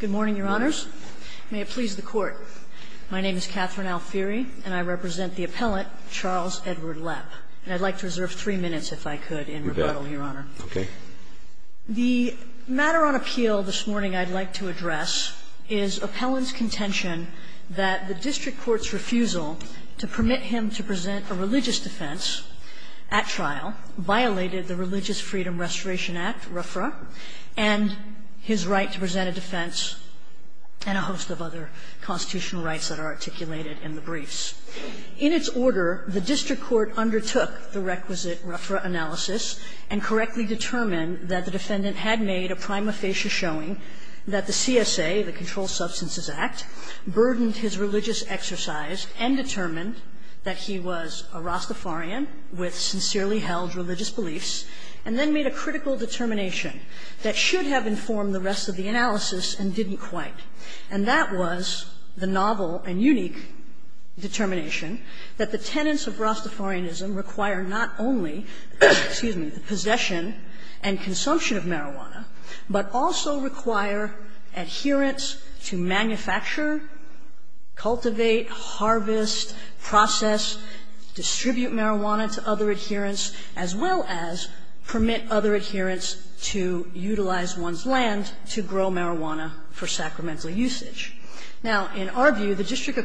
Good morning, Your Honors. May it please the Court. My name is Catherine Alfieri, and I represent the appellant, Charles Edward Lepp, and I'd like to reserve three minutes, if I could, in rebuttal, Your Honor. Okay. The matter on appeal this morning I'd like to address is appellant's contention that the district court's refusal to permit him to present a religious defense at trial violated the Religious Freedom Restoration Act, RFRA, and his right to present a defense and a host of other constitutional rights that are articulated in the briefs. In its order, the district court undertook the requisite RFRA analysis and correctly determined that the defendant had made a prima facie showing that the CSA, the Controlled Substances Act, burdened his religious exercise and determined that he was a Rastafarian with sincerely held religious beliefs, and then made a critical determination that should have informed the rest of the analysis and didn't quite. And that was the novel and unique determination that the tenets of Rastafarianism require not only, excuse me, the possession and consumption of marijuana, but also require adherents to manufacture, cultivate, harvest, process, distribute marijuana to other adherents, as well as permit other adherents to utilize one's own marijuana for sacramental usage. Now, in our view, the district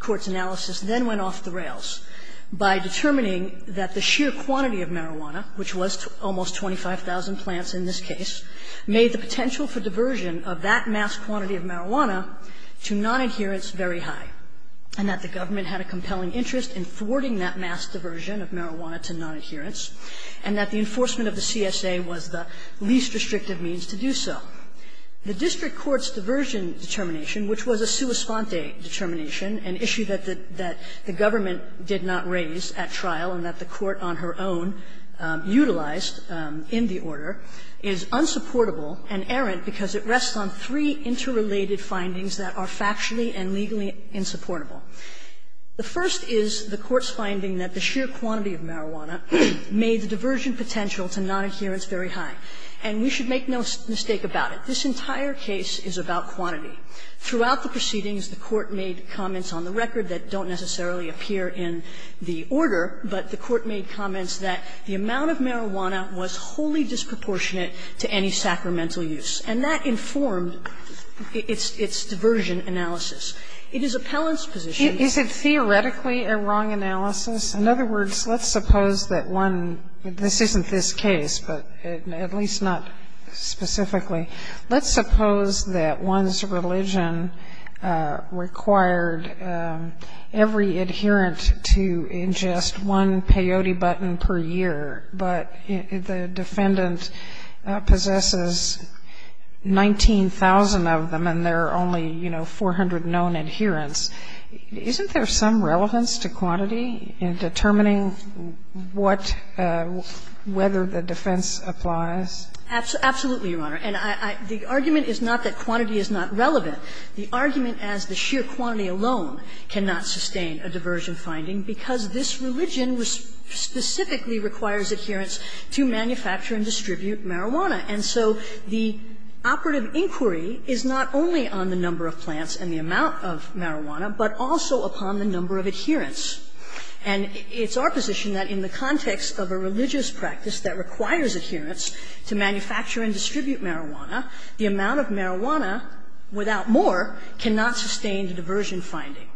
court's analysis then went off the rails by determining that the sheer quantity of marijuana, which was almost 25,000 plants in this case, made the potential for diversion of that mass quantity of marijuana to nonadherents very high, and that the government had a compelling interest in thwarting that mass diversion of marijuana to nonadherents, and that the enforcement of the CSA was the The district court's diversion determination, which was a sua sponte determination, an issue that the government did not raise at trial and that the court on her own utilized in the order, is unsupportable and errant because it rests on three interrelated findings that are factually and legally insupportable. The first is the court's finding that the sheer quantity of marijuana made the diversion potential to nonadherents very high. And we should make no mistake about it. This entire case is about quantity. Throughout the proceedings, the court made comments on the record that don't necessarily appear in the order, but the court made comments that the amount of marijuana was wholly disproportionate to any sacramental use. And that informed its diversion analysis. It is appellant's position that Is it theoretically a wrong analysis? In other words, let's suppose that one, this isn't this case, but at least not specifically. Let's suppose that one's religion required every adherent to ingest one peyote button per year, but the defendant possesses 19,000 of them and there are only, you know, 400 known adherents. Isn't there some relevance to quantity in determining what – whether the defense applies? Absolutely, Your Honor. And I – the argument is not that quantity is not relevant. The argument as the sheer quantity alone cannot sustain a diversion finding because this religion specifically requires adherents to manufacture and distribute marijuana. And so the operative inquiry is not only on the number of plants and the amount of marijuana, but also upon the number of adherents. And it's our position that in the context of a religious practice that requires adherents to manufacture and distribute marijuana, the amount of marijuana without more cannot sustain a diversion finding.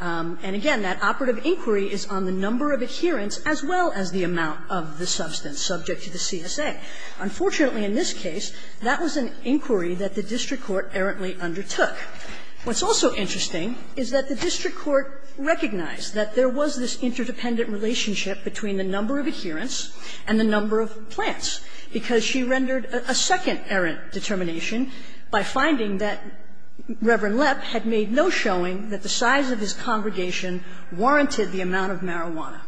And again, that operative inquiry is on the number of adherents as well as the amount of the substance subject to the CSA. Unfortunately, in this case, that was an inquiry that the district court errantly undertook. What's also interesting is that the district court recognized that there was this interdependent relationship between the number of adherents and the number of plants, because she rendered a second errant determination by finding that Reverend Lepp had made no showing that the size of his congregation warranted the amount of marijuana.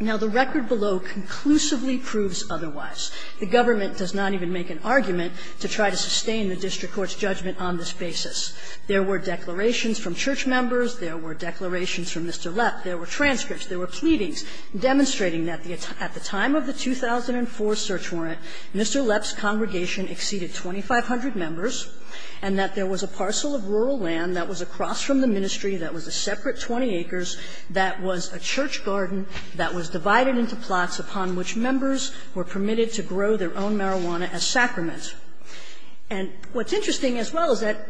Now, the record below conclusively proves otherwise. The government does not even make an argument to try to sustain the district court's judgment on this basis. There were declarations from church members, there were declarations from Mr. Lepp, there were transcripts, there were pleadings demonstrating that at the time of the 2004 search warrant, Mr. Lepp's congregation exceeded 2,500 members, and that there was a parcel of rural land that was across from the ministry that was a separate 20 acres that was a church garden that was divided into plots upon which members were permitted to grow their own marijuana as sacraments. And what's interesting as well is that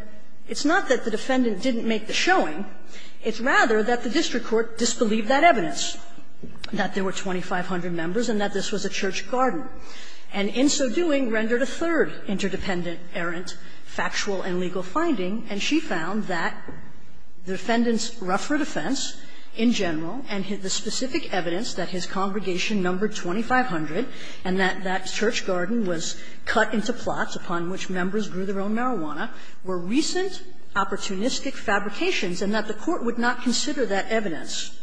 it's not that the defendant didn't make the showing. It's rather that the district court disbelieved that evidence, that there were 2,500 members and that this was a church garden, and in so doing rendered a third interdependent errant factual and legal finding, and she found that the defendant's rougher defense in general and the specific evidence that his congregation numbered 2,500 and that church garden was cut into plots upon which members grew their own marijuana were recent opportunistic fabrications, and that the court would not consider that evidence.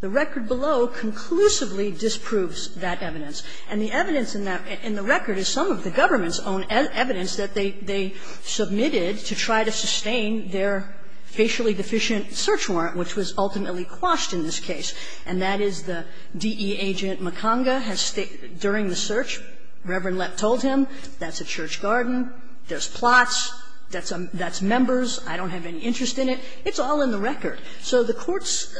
The record below conclusively disproves that evidence. And the evidence in that record is some of the government's own evidence that they submitted to try to sustain their facially deficient search warrant, which was ultimately quashed in this case. And that is the DE agent McConga has stated during the search, Reverend Lepp told him, that's a church garden, there's plots, that's members, I don't have any interest in it. It's all in the record. So the court's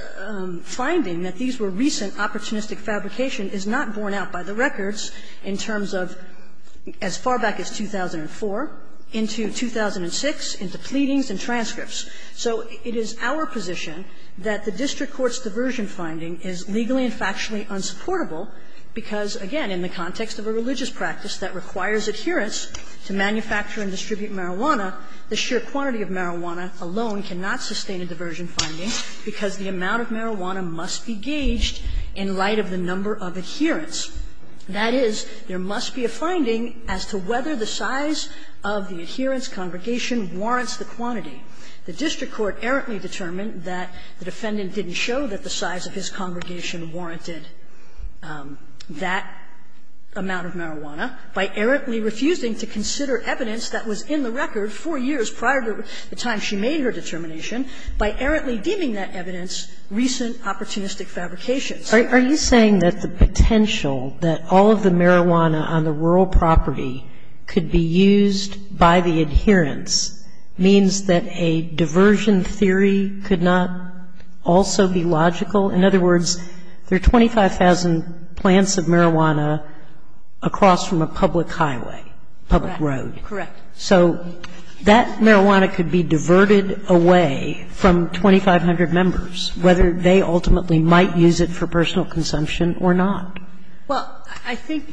finding that these were recent opportunistic fabrication is not borne out by the records in terms of as far back as 2004 into 2006 into pleadings and transcripts. So it is our position that the district court's diversion finding is legally and factually unsupportable because, again, in the context of a religious practice that requires adherence to manufacture and distribute marijuana, the sheer quantity of marijuana alone cannot sustain a diversion finding because the amount of marijuana must be gauged in light of the number of adherents. That is, there must be a finding as to whether the size of the adherents' congregation warrants the quantity. The district court errantly determined that the defendant didn't show that the size of his congregation warranted that amount of marijuana by errantly refusing to consider evidence that was in the record four years prior to the time she made her determination, by errantly deeming that evidence recent opportunistic fabrication. Sotomayor, are you saying that the potential that all of the marijuana on the rural property could be used by the adherents means that a diversion theory could not also be logical? In other words, there are 25,000 plants of marijuana across from a public highway, public road. Correct. So that marijuana could be diverted away from 2,500 members, whether they ultimately might use it for personal consumption or not. Well, I think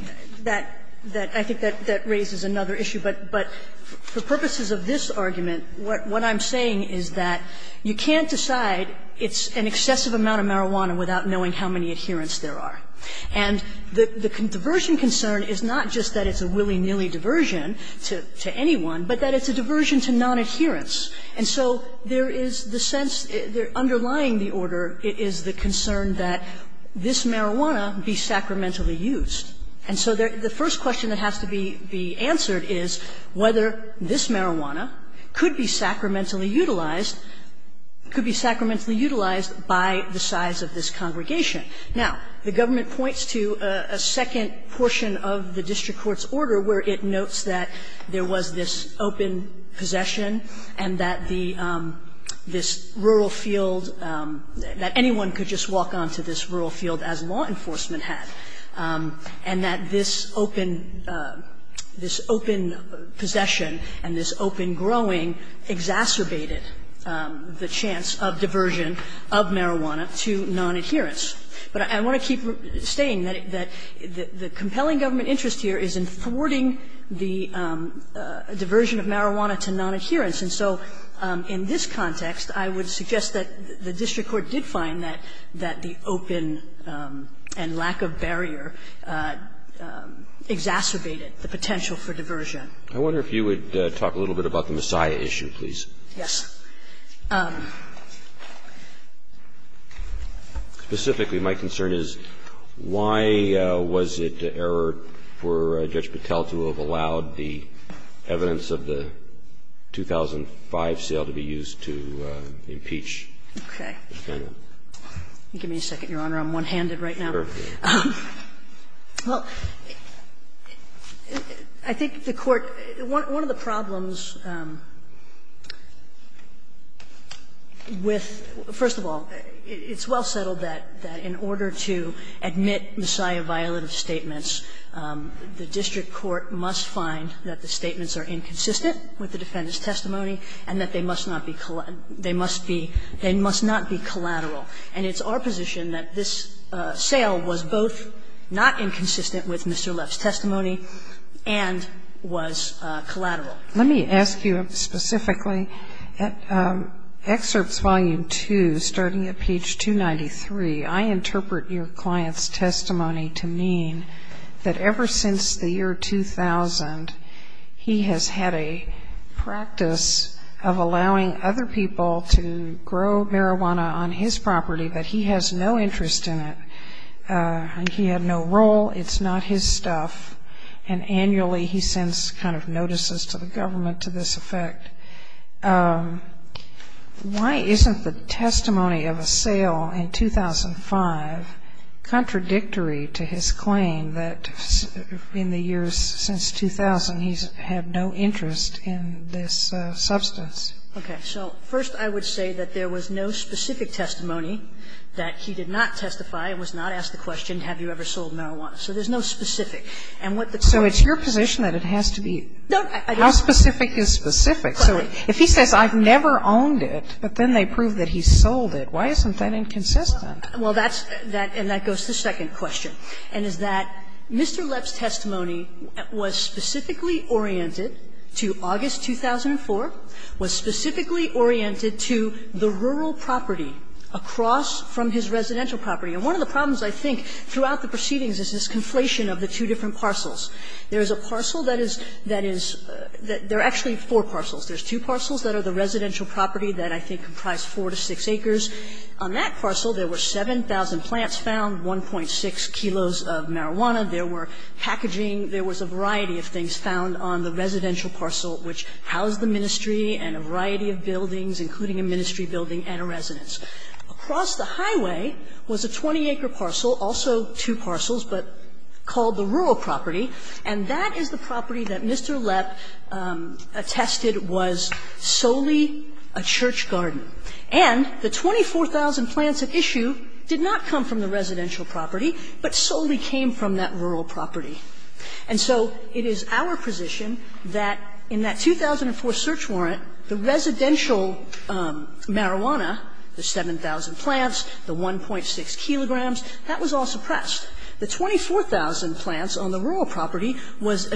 that that raises another issue. But for purposes of this argument, what I'm saying is that you can't decide it's an excessive amount of marijuana without knowing how many adherents there are. And the diversion concern is not just that it's a willy-nilly diversion to anyone, but that it's a diversion to nonadherents. And so there is the sense underlying the order is the concern that this marijuana be sacramentally used. And so the first question that has to be answered is whether this marijuana could be sacramentally utilized, could be sacramentally utilized by the size of this congregation. Now, the government points to a second portion of the district court's order where it notes that there was this open possession and that the this rural field, that anyone could just walk on to this rural field as law enforcement had, and that this open, this open possession and this open growing exacerbated the chance of diversion of marijuana to nonadherents. But I want to keep saying that the compelling government interest here is in thwarting the diversion of marijuana to nonadherents. And so in this context, I would suggest that the district court did find that the open and lack of barrier exacerbated the potential for diversion. Roberts. I wonder if you would talk a little bit about the Messiah issue, please. Yes. Specifically, my concern is why was it an error for Judge Patel to have allowed the evidence of the 2005 sale to be used to impeach the defendant? Okay. Give me a second, Your Honor. I'm one-handed right now. Sure. Well, I think the Court one of the problems with the first of all, it's well settled that in order to admit Messiah violative statements, the district court must find that the statements are inconsistent with the defendant's testimony and that they must not be collateral. And it's our position that this sale was both not inconsistent with Mr. Leff's testimony and was collateral. Let me ask you specifically, at excerpts volume 2, starting at page 293, I interpret your client's testimony to mean that ever since the year 2000, he has had a practice of allowing other people to grow marijuana on his property, but he has no interest in it. He had no role. It's not his stuff. And annually, he sends kind of notices to the government to this effect. Why isn't the testimony of a sale in 2005 contradictory to his claim that in the years since 2000, he's had no interest in this substance? Okay. So first, I would say that there was no specific testimony that he did not testify and was not asked the question, have you ever sold marijuana? So there's no specific. And what the Court So it's your position that it has to be How specific is specific? So if he says I've never owned it, but then they prove that he's sold it, why isn't that inconsistent? Well, that's that, and that goes to the second question, and is that Mr. Leff's testimony was specifically oriented to August 2004, was specifically oriented to the rural property across from his residential property. And one of the problems, I think, throughout the proceedings is this conflation of the two different parcels. There is a parcel that is that is that there are actually four parcels. There's two parcels that are the residential property that I think comprise four to six acres. On that parcel, there were 7,000 plants found, 1.6 kilos of marijuana. There were packaging. There was a variety of things found on the residential parcel which housed the ministry and a variety of buildings, including a ministry building and a residence. Across the highway was a 20-acre parcel, also two parcels, but called the rural property, and that is the property that Mr. Leff attested was solely a church garden. And the 24,000 plants at issue did not come from the residential property, but solely came from that rural property. And so it is our position that in that 2004 search warrant, the residential marijuana, the 7,000 plants, the 1.6 kilograms, that was all suppressed. The 24,000 plants on the rural property was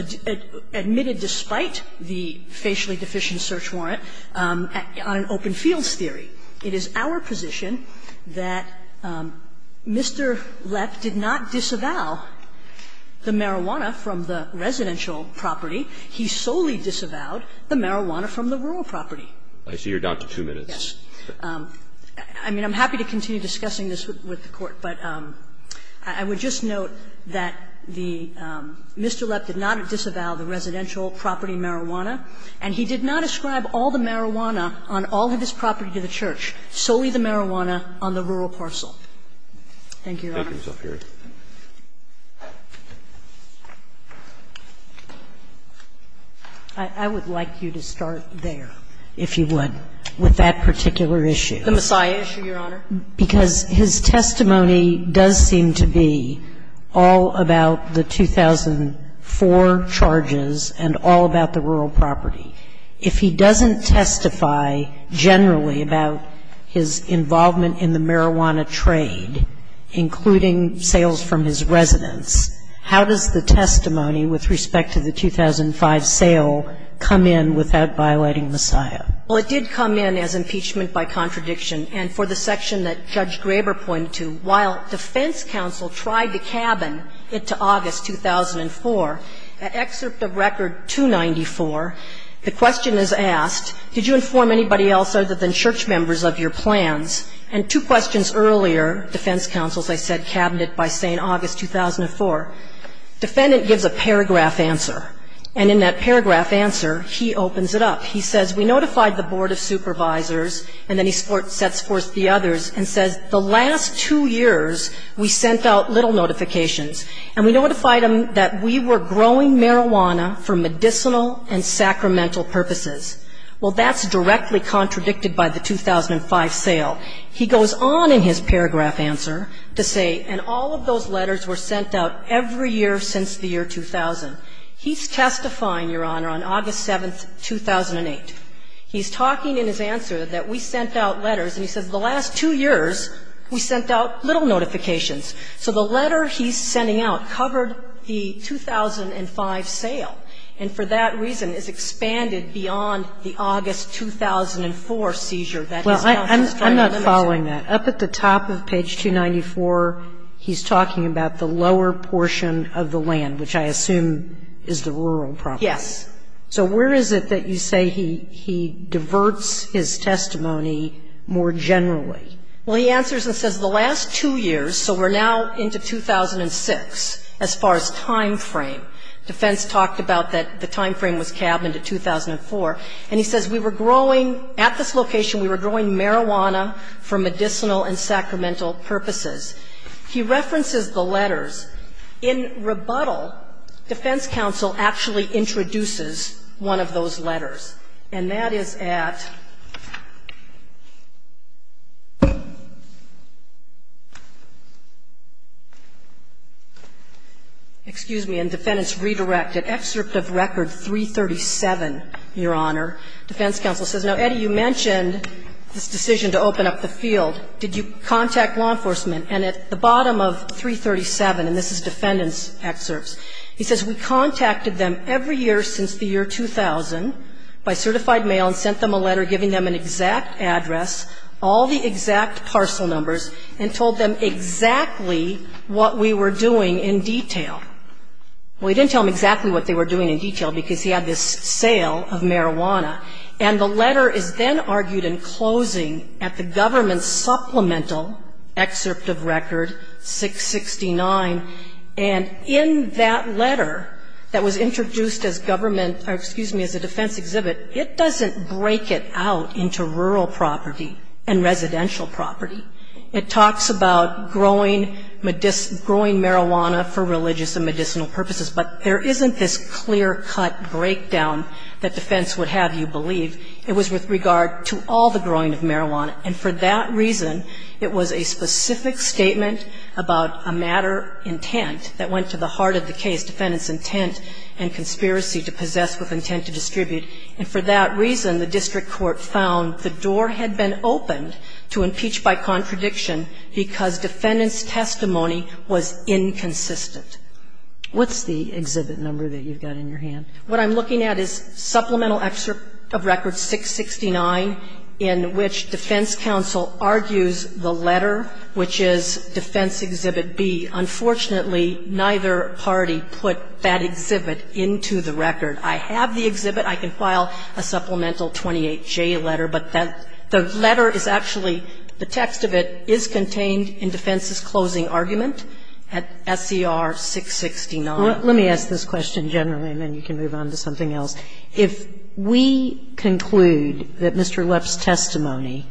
admitted despite the facially deficient search warrant on an open fields theory. It is our position that Mr. Leff did not disavow the marijuana from the residential property. He solely disavowed the marijuana from the rural property. Roberts. I see you're down to two minutes. Yes. I mean, I'm happy to continue discussing this with the Court, but I would just like to note that the Mr. Leff did not disavow the residential property marijuana, and he did not ascribe all the marijuana on all of his property to the church, solely the marijuana on the rural parcel. Thank you, Your Honor. Thank you, Zophira. I would like you to start there, if you would, with that particular issue. The Messiah issue, Your Honor? Because his testimony does seem to be all about the 2004 charges and all about the rural property. If he doesn't testify generally about his involvement in the marijuana trade, including sales from his residence, how does the testimony with respect to the 2005 sale come in without violating Messiah? Well, it did come in as impeachment by contradiction. And for the section that Judge Graber pointed to, while defense counsel tried to cabin it to August 2004, excerpt of Record 294, the question is asked, did you inform anybody else other than church members of your plans? And two questions earlier, defense counsel, as I said, cabinet by saying August 2004. Defendant gives a paragraph answer. And in that paragraph answer, he opens it up. He says, we notified the Board of Supervisors. And then he sets forth the others and says, the last two years, we sent out little notifications. And we notified them that we were growing marijuana for medicinal and sacramental purposes. Well, that's directly contradicted by the 2005 sale. He goes on in his paragraph answer to say, and all of those letters were sent out every year since the year 2000. He's testifying, Your Honor, on August 7, 2008. He's talking in his answer that we sent out letters. And he says, the last two years, we sent out little notifications. So the letter he's sending out covered the 2005 sale, and for that reason is expanded beyond the August 2004 seizure that his counsel is trying to limit. Well, I'm not following that. Up at the top of page 294, he's talking about the lower portion of the land, which I assume is the rural property. Yes. So where is it that you say he diverts his testimony more generally? Well, he answers and says, the last two years, so we're now into 2006 as far as time frame. Defense talked about that the time frame was cabbed into 2004. And he says, we were growing at this location, we were growing marijuana for medicinal and sacramental purposes. He references the letters. In rebuttal, defense counsel actually introduces one of those letters. And that is at excuse me, in Defendant's Redirected Excerpt of Record 337, Your Honor. Defense counsel says, now, Eddie, you mentioned this decision to open up the field. Did you contact law enforcement? And at the bottom of 337, and this is Defendant's excerpts, he says, we contacted them every year since the year 2000 by certified mail and sent them a letter giving them an exact address, all the exact parcel numbers, and told them exactly what we were doing in detail. Well, he didn't tell them exactly what they were doing in detail because he had this sale of marijuana. And the letter is then argued in closing at the government's supplemental excerpt of record 669. And in that letter that was introduced as government, or excuse me, as a defense exhibit, it doesn't break it out into rural property and residential property. It talks about growing marijuana for religious and medicinal purposes. But there isn't this clear-cut breakdown that defense would have you believe. It was with regard to all the growing of marijuana. And for that reason, it was a specific statement about a matter intent that went to the heart of the case, defendant's intent and conspiracy to possess with intent to distribute. And for that reason, the district court found the door had been opened to impeach by contradiction because defendant's testimony was inconsistent. What's the exhibit number that you've got in your hand? What I'm looking at is supplemental excerpt of record 669 in which defense counsel argues the letter, which is defense exhibit B. Unfortunately, neither party put that exhibit into the record. I have the exhibit. I can file a supplemental 28J letter. But that the letter is actually, the text of it is contained in defense's closing argument at SCR 669. Sotomayor, let me ask this question generally, and then you can move on to something else. If we conclude that Mr. Lepp's testimony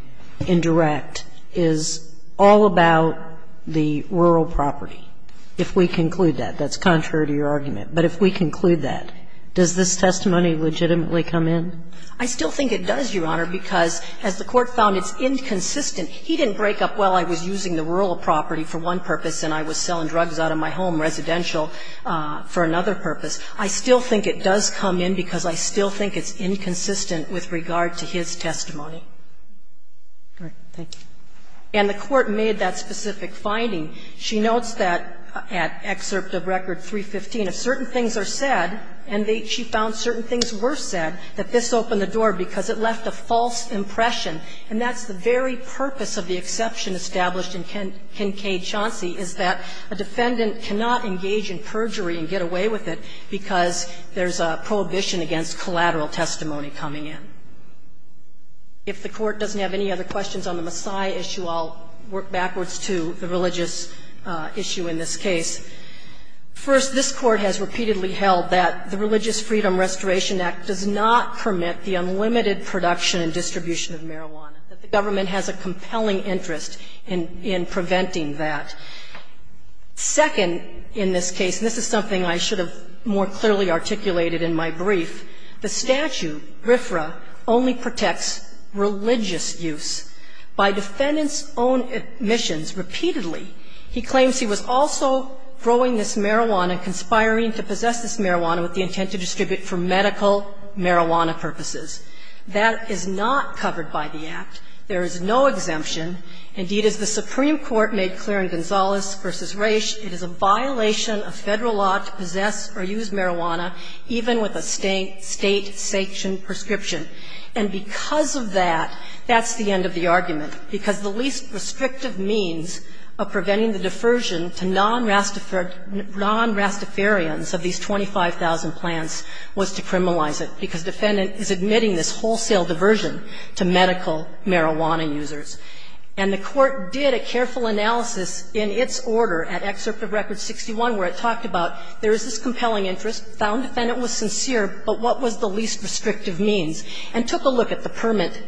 in direct is all about the rural property, if we conclude that, that's contrary to your argument, but if we conclude that, does this testimony legitimately come in? I still think it does, Your Honor, because as the court found, it's inconsistent. He didn't break up, well, I was using the rural property for one purpose and I was selling drugs out of my home, residential, for another purpose. I still think it does come in because I still think it's inconsistent with regard to his testimony. And the court made that specific finding. She notes that at excerpt of record 315, if certain things are said, and she found certain things were said, that this opened the door because it left a false impression. And that's the very purpose of the exception established in Kincaid-Chauncey, is that a defendant cannot engage in perjury and get away with it because there's a prohibition against collateral testimony coming in. If the Court doesn't have any other questions on the Maasai issue, I'll work backwards to the religious issue in this case. First, this Court has repeatedly held that the Religious Freedom Restoration Act does not permit the unlimited production and distribution of marijuana, that the government has a compelling interest in preventing that. Second, in this case, and this is something I should have more clearly articulated in my brief, the statute, RFRA, only protects religious use. By defendant's own admissions, repeatedly, he claims he was also growing this marijuana, conspiring to possess this marijuana with the intent to distribute for medical marijuana purposes. That is not covered by the Act. There is no exemption. Indeed, as the Supreme Court made clear in Gonzales v. Raich, it is a violation of Federal law to possess or use marijuana even with a State sanctioned prescription. And because of that, that's the end of the argument, because the least restrictive means of preventing the defersion to non-Rastafarians of these 25,000 plants was to criminalize it, because defendant is admitting this wholesale diversion to medical marijuana users. And the Court did a careful analysis in its order at Excerpt of Record 61 where it talked about there is this compelling interest, found defendant was sincere, but what was the least restrictive means, and took a look at the permit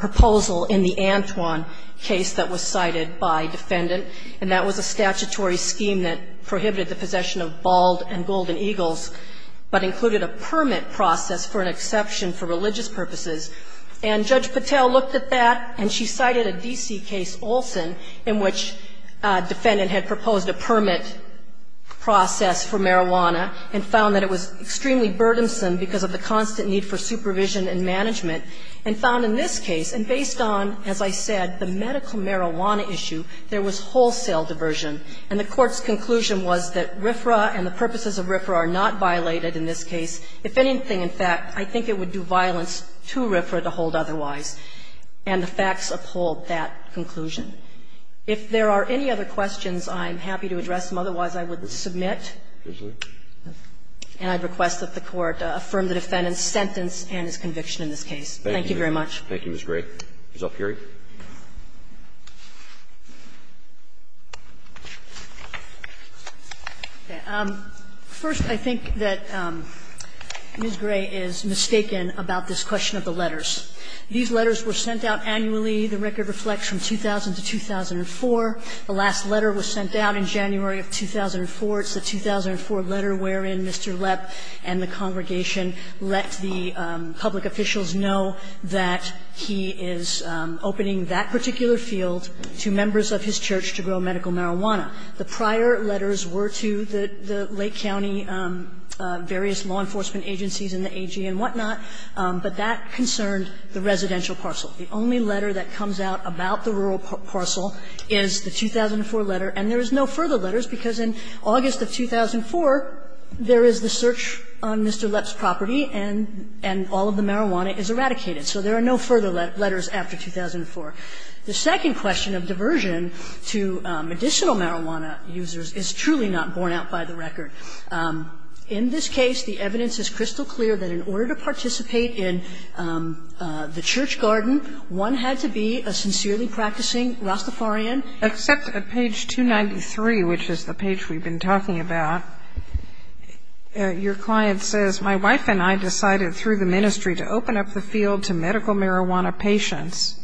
proposal in the Antwon case that was cited by defendant, and that was a statutory scheme that prohibited the possession of bald and golden eagles, but included a permit process for an exception for religious purposes. And Judge Patel looked at that, and she cited a D.C. case, Olson, in which defendant had proposed a permit process for marijuana and found that it was extremely burdensome because of the constant need for supervision and management, and found in this case, and based on, as I said, the medical marijuana issue, there was wholesale diversion. And the Court's conclusion was that RFRA and the purposes of RFRA are not violated in this case. If anything, in fact, I think it would do violence to RFRA to hold otherwise. And the facts uphold that conclusion. If there are any other questions, I'm happy to address them. Otherwise, I would submit. And I'd request that the Court affirm the defendant's sentence and his conviction in this case. Thank you very much. Thank you, Ms. Gray. Ms. Alfieri. First, I think that Ms. Gray is mistaken about this question of the letters. These letters were sent out annually. The record reflects from 2000 to 2004. The last letter was sent out in January of 2004. It's the 2004 letter wherein Mr. Lepp and the congregation let the public officials know that he is opening that particular field to members of his church to grow medical marijuana. The prior letters were to the Lake County various law enforcement agencies and the AG and whatnot, but that concerned the residential parcel. The only letter that comes out about the rural parcel is the 2004 letter. And there is no further letters, because in August of 2004, there is the search on Mr. Lepp's property and all of the marijuana is eradicated. So there are no further letters after 2004. The second question of diversion to medicinal marijuana users is truly not borne out by the record. In this case, the evidence is crystal clear that in order to participate in the church garden, one had to be a sincerely practicing Rastafarian. Except at page 293, which is the page we've been talking about, your client says, my wife and I decided through the ministry to open up the field to medical marijuana patients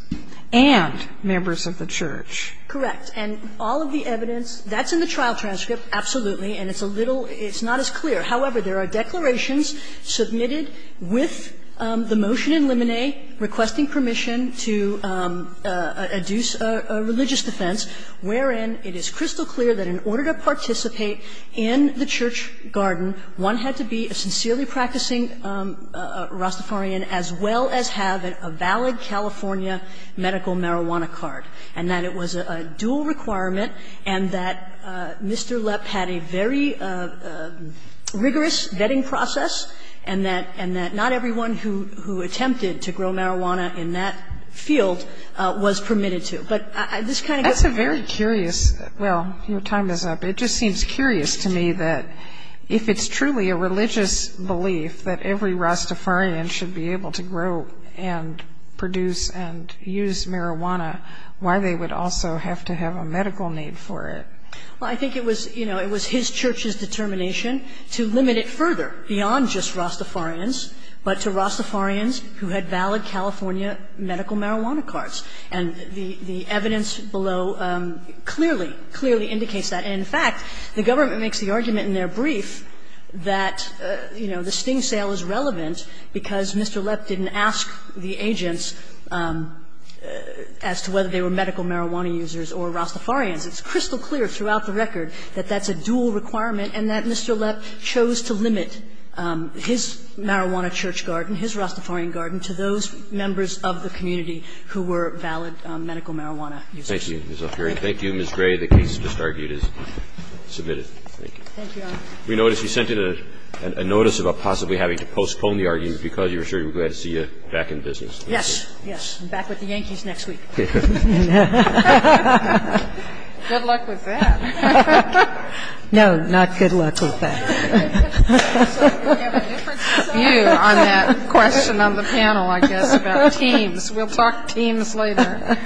and members of the church. Correct. And all of the evidence, that's in the trial transcript, absolutely, and it's a little – it's not as clear. However, there are declarations submitted with the motion in limine requesting permission to adduce a religious defense, wherein it is crystal clear that in order to participate in the church garden, one had to be a sincerely practicing Rastafarian as well as have a valid California medical marijuana card, and that it was a dual requirement and that Mr. Lepp had a very rigorous vetting process and that not everyone who attempted to grow marijuana in that field was permitted to. But this kind of – That's a very curious – well, your time is up. It just seems curious to me that if it's truly a religious belief that every Rastafarian should be able to grow and produce and use marijuana, why they would also have to have a medical need for it? Well, I think it was, you know, it was his church's determination to limit it further beyond just Rastafarians, but to Rastafarians who had valid California medical marijuana cards. And the evidence below clearly, clearly indicates that. And in fact, the government makes the argument in their brief that, you know, the sting sale is relevant because Mr. Lepp didn't ask the agents as to whether they were medical marijuana users or Rastafarians. It's crystal clear throughout the record that that's a dual requirement and that Mr. Lepp chose to limit his marijuana church garden, his Rastafarian garden, to those members of the community who were valid medical marijuana users. Thank you, Ms. O'Farrill. Thank you, Ms. Gray. The case just argued is submitted. Thank you. Thank you, Your Honor. We noticed you sent in a notice about possibly having to postpone the argument because you were sure you were glad to see you back in business. Yes. Yes. I'm back with the Yankees next week. Good luck with that. No, not good luck with that. We'll have a different view on that question on the panel, I guess, about teams. We'll talk teams later.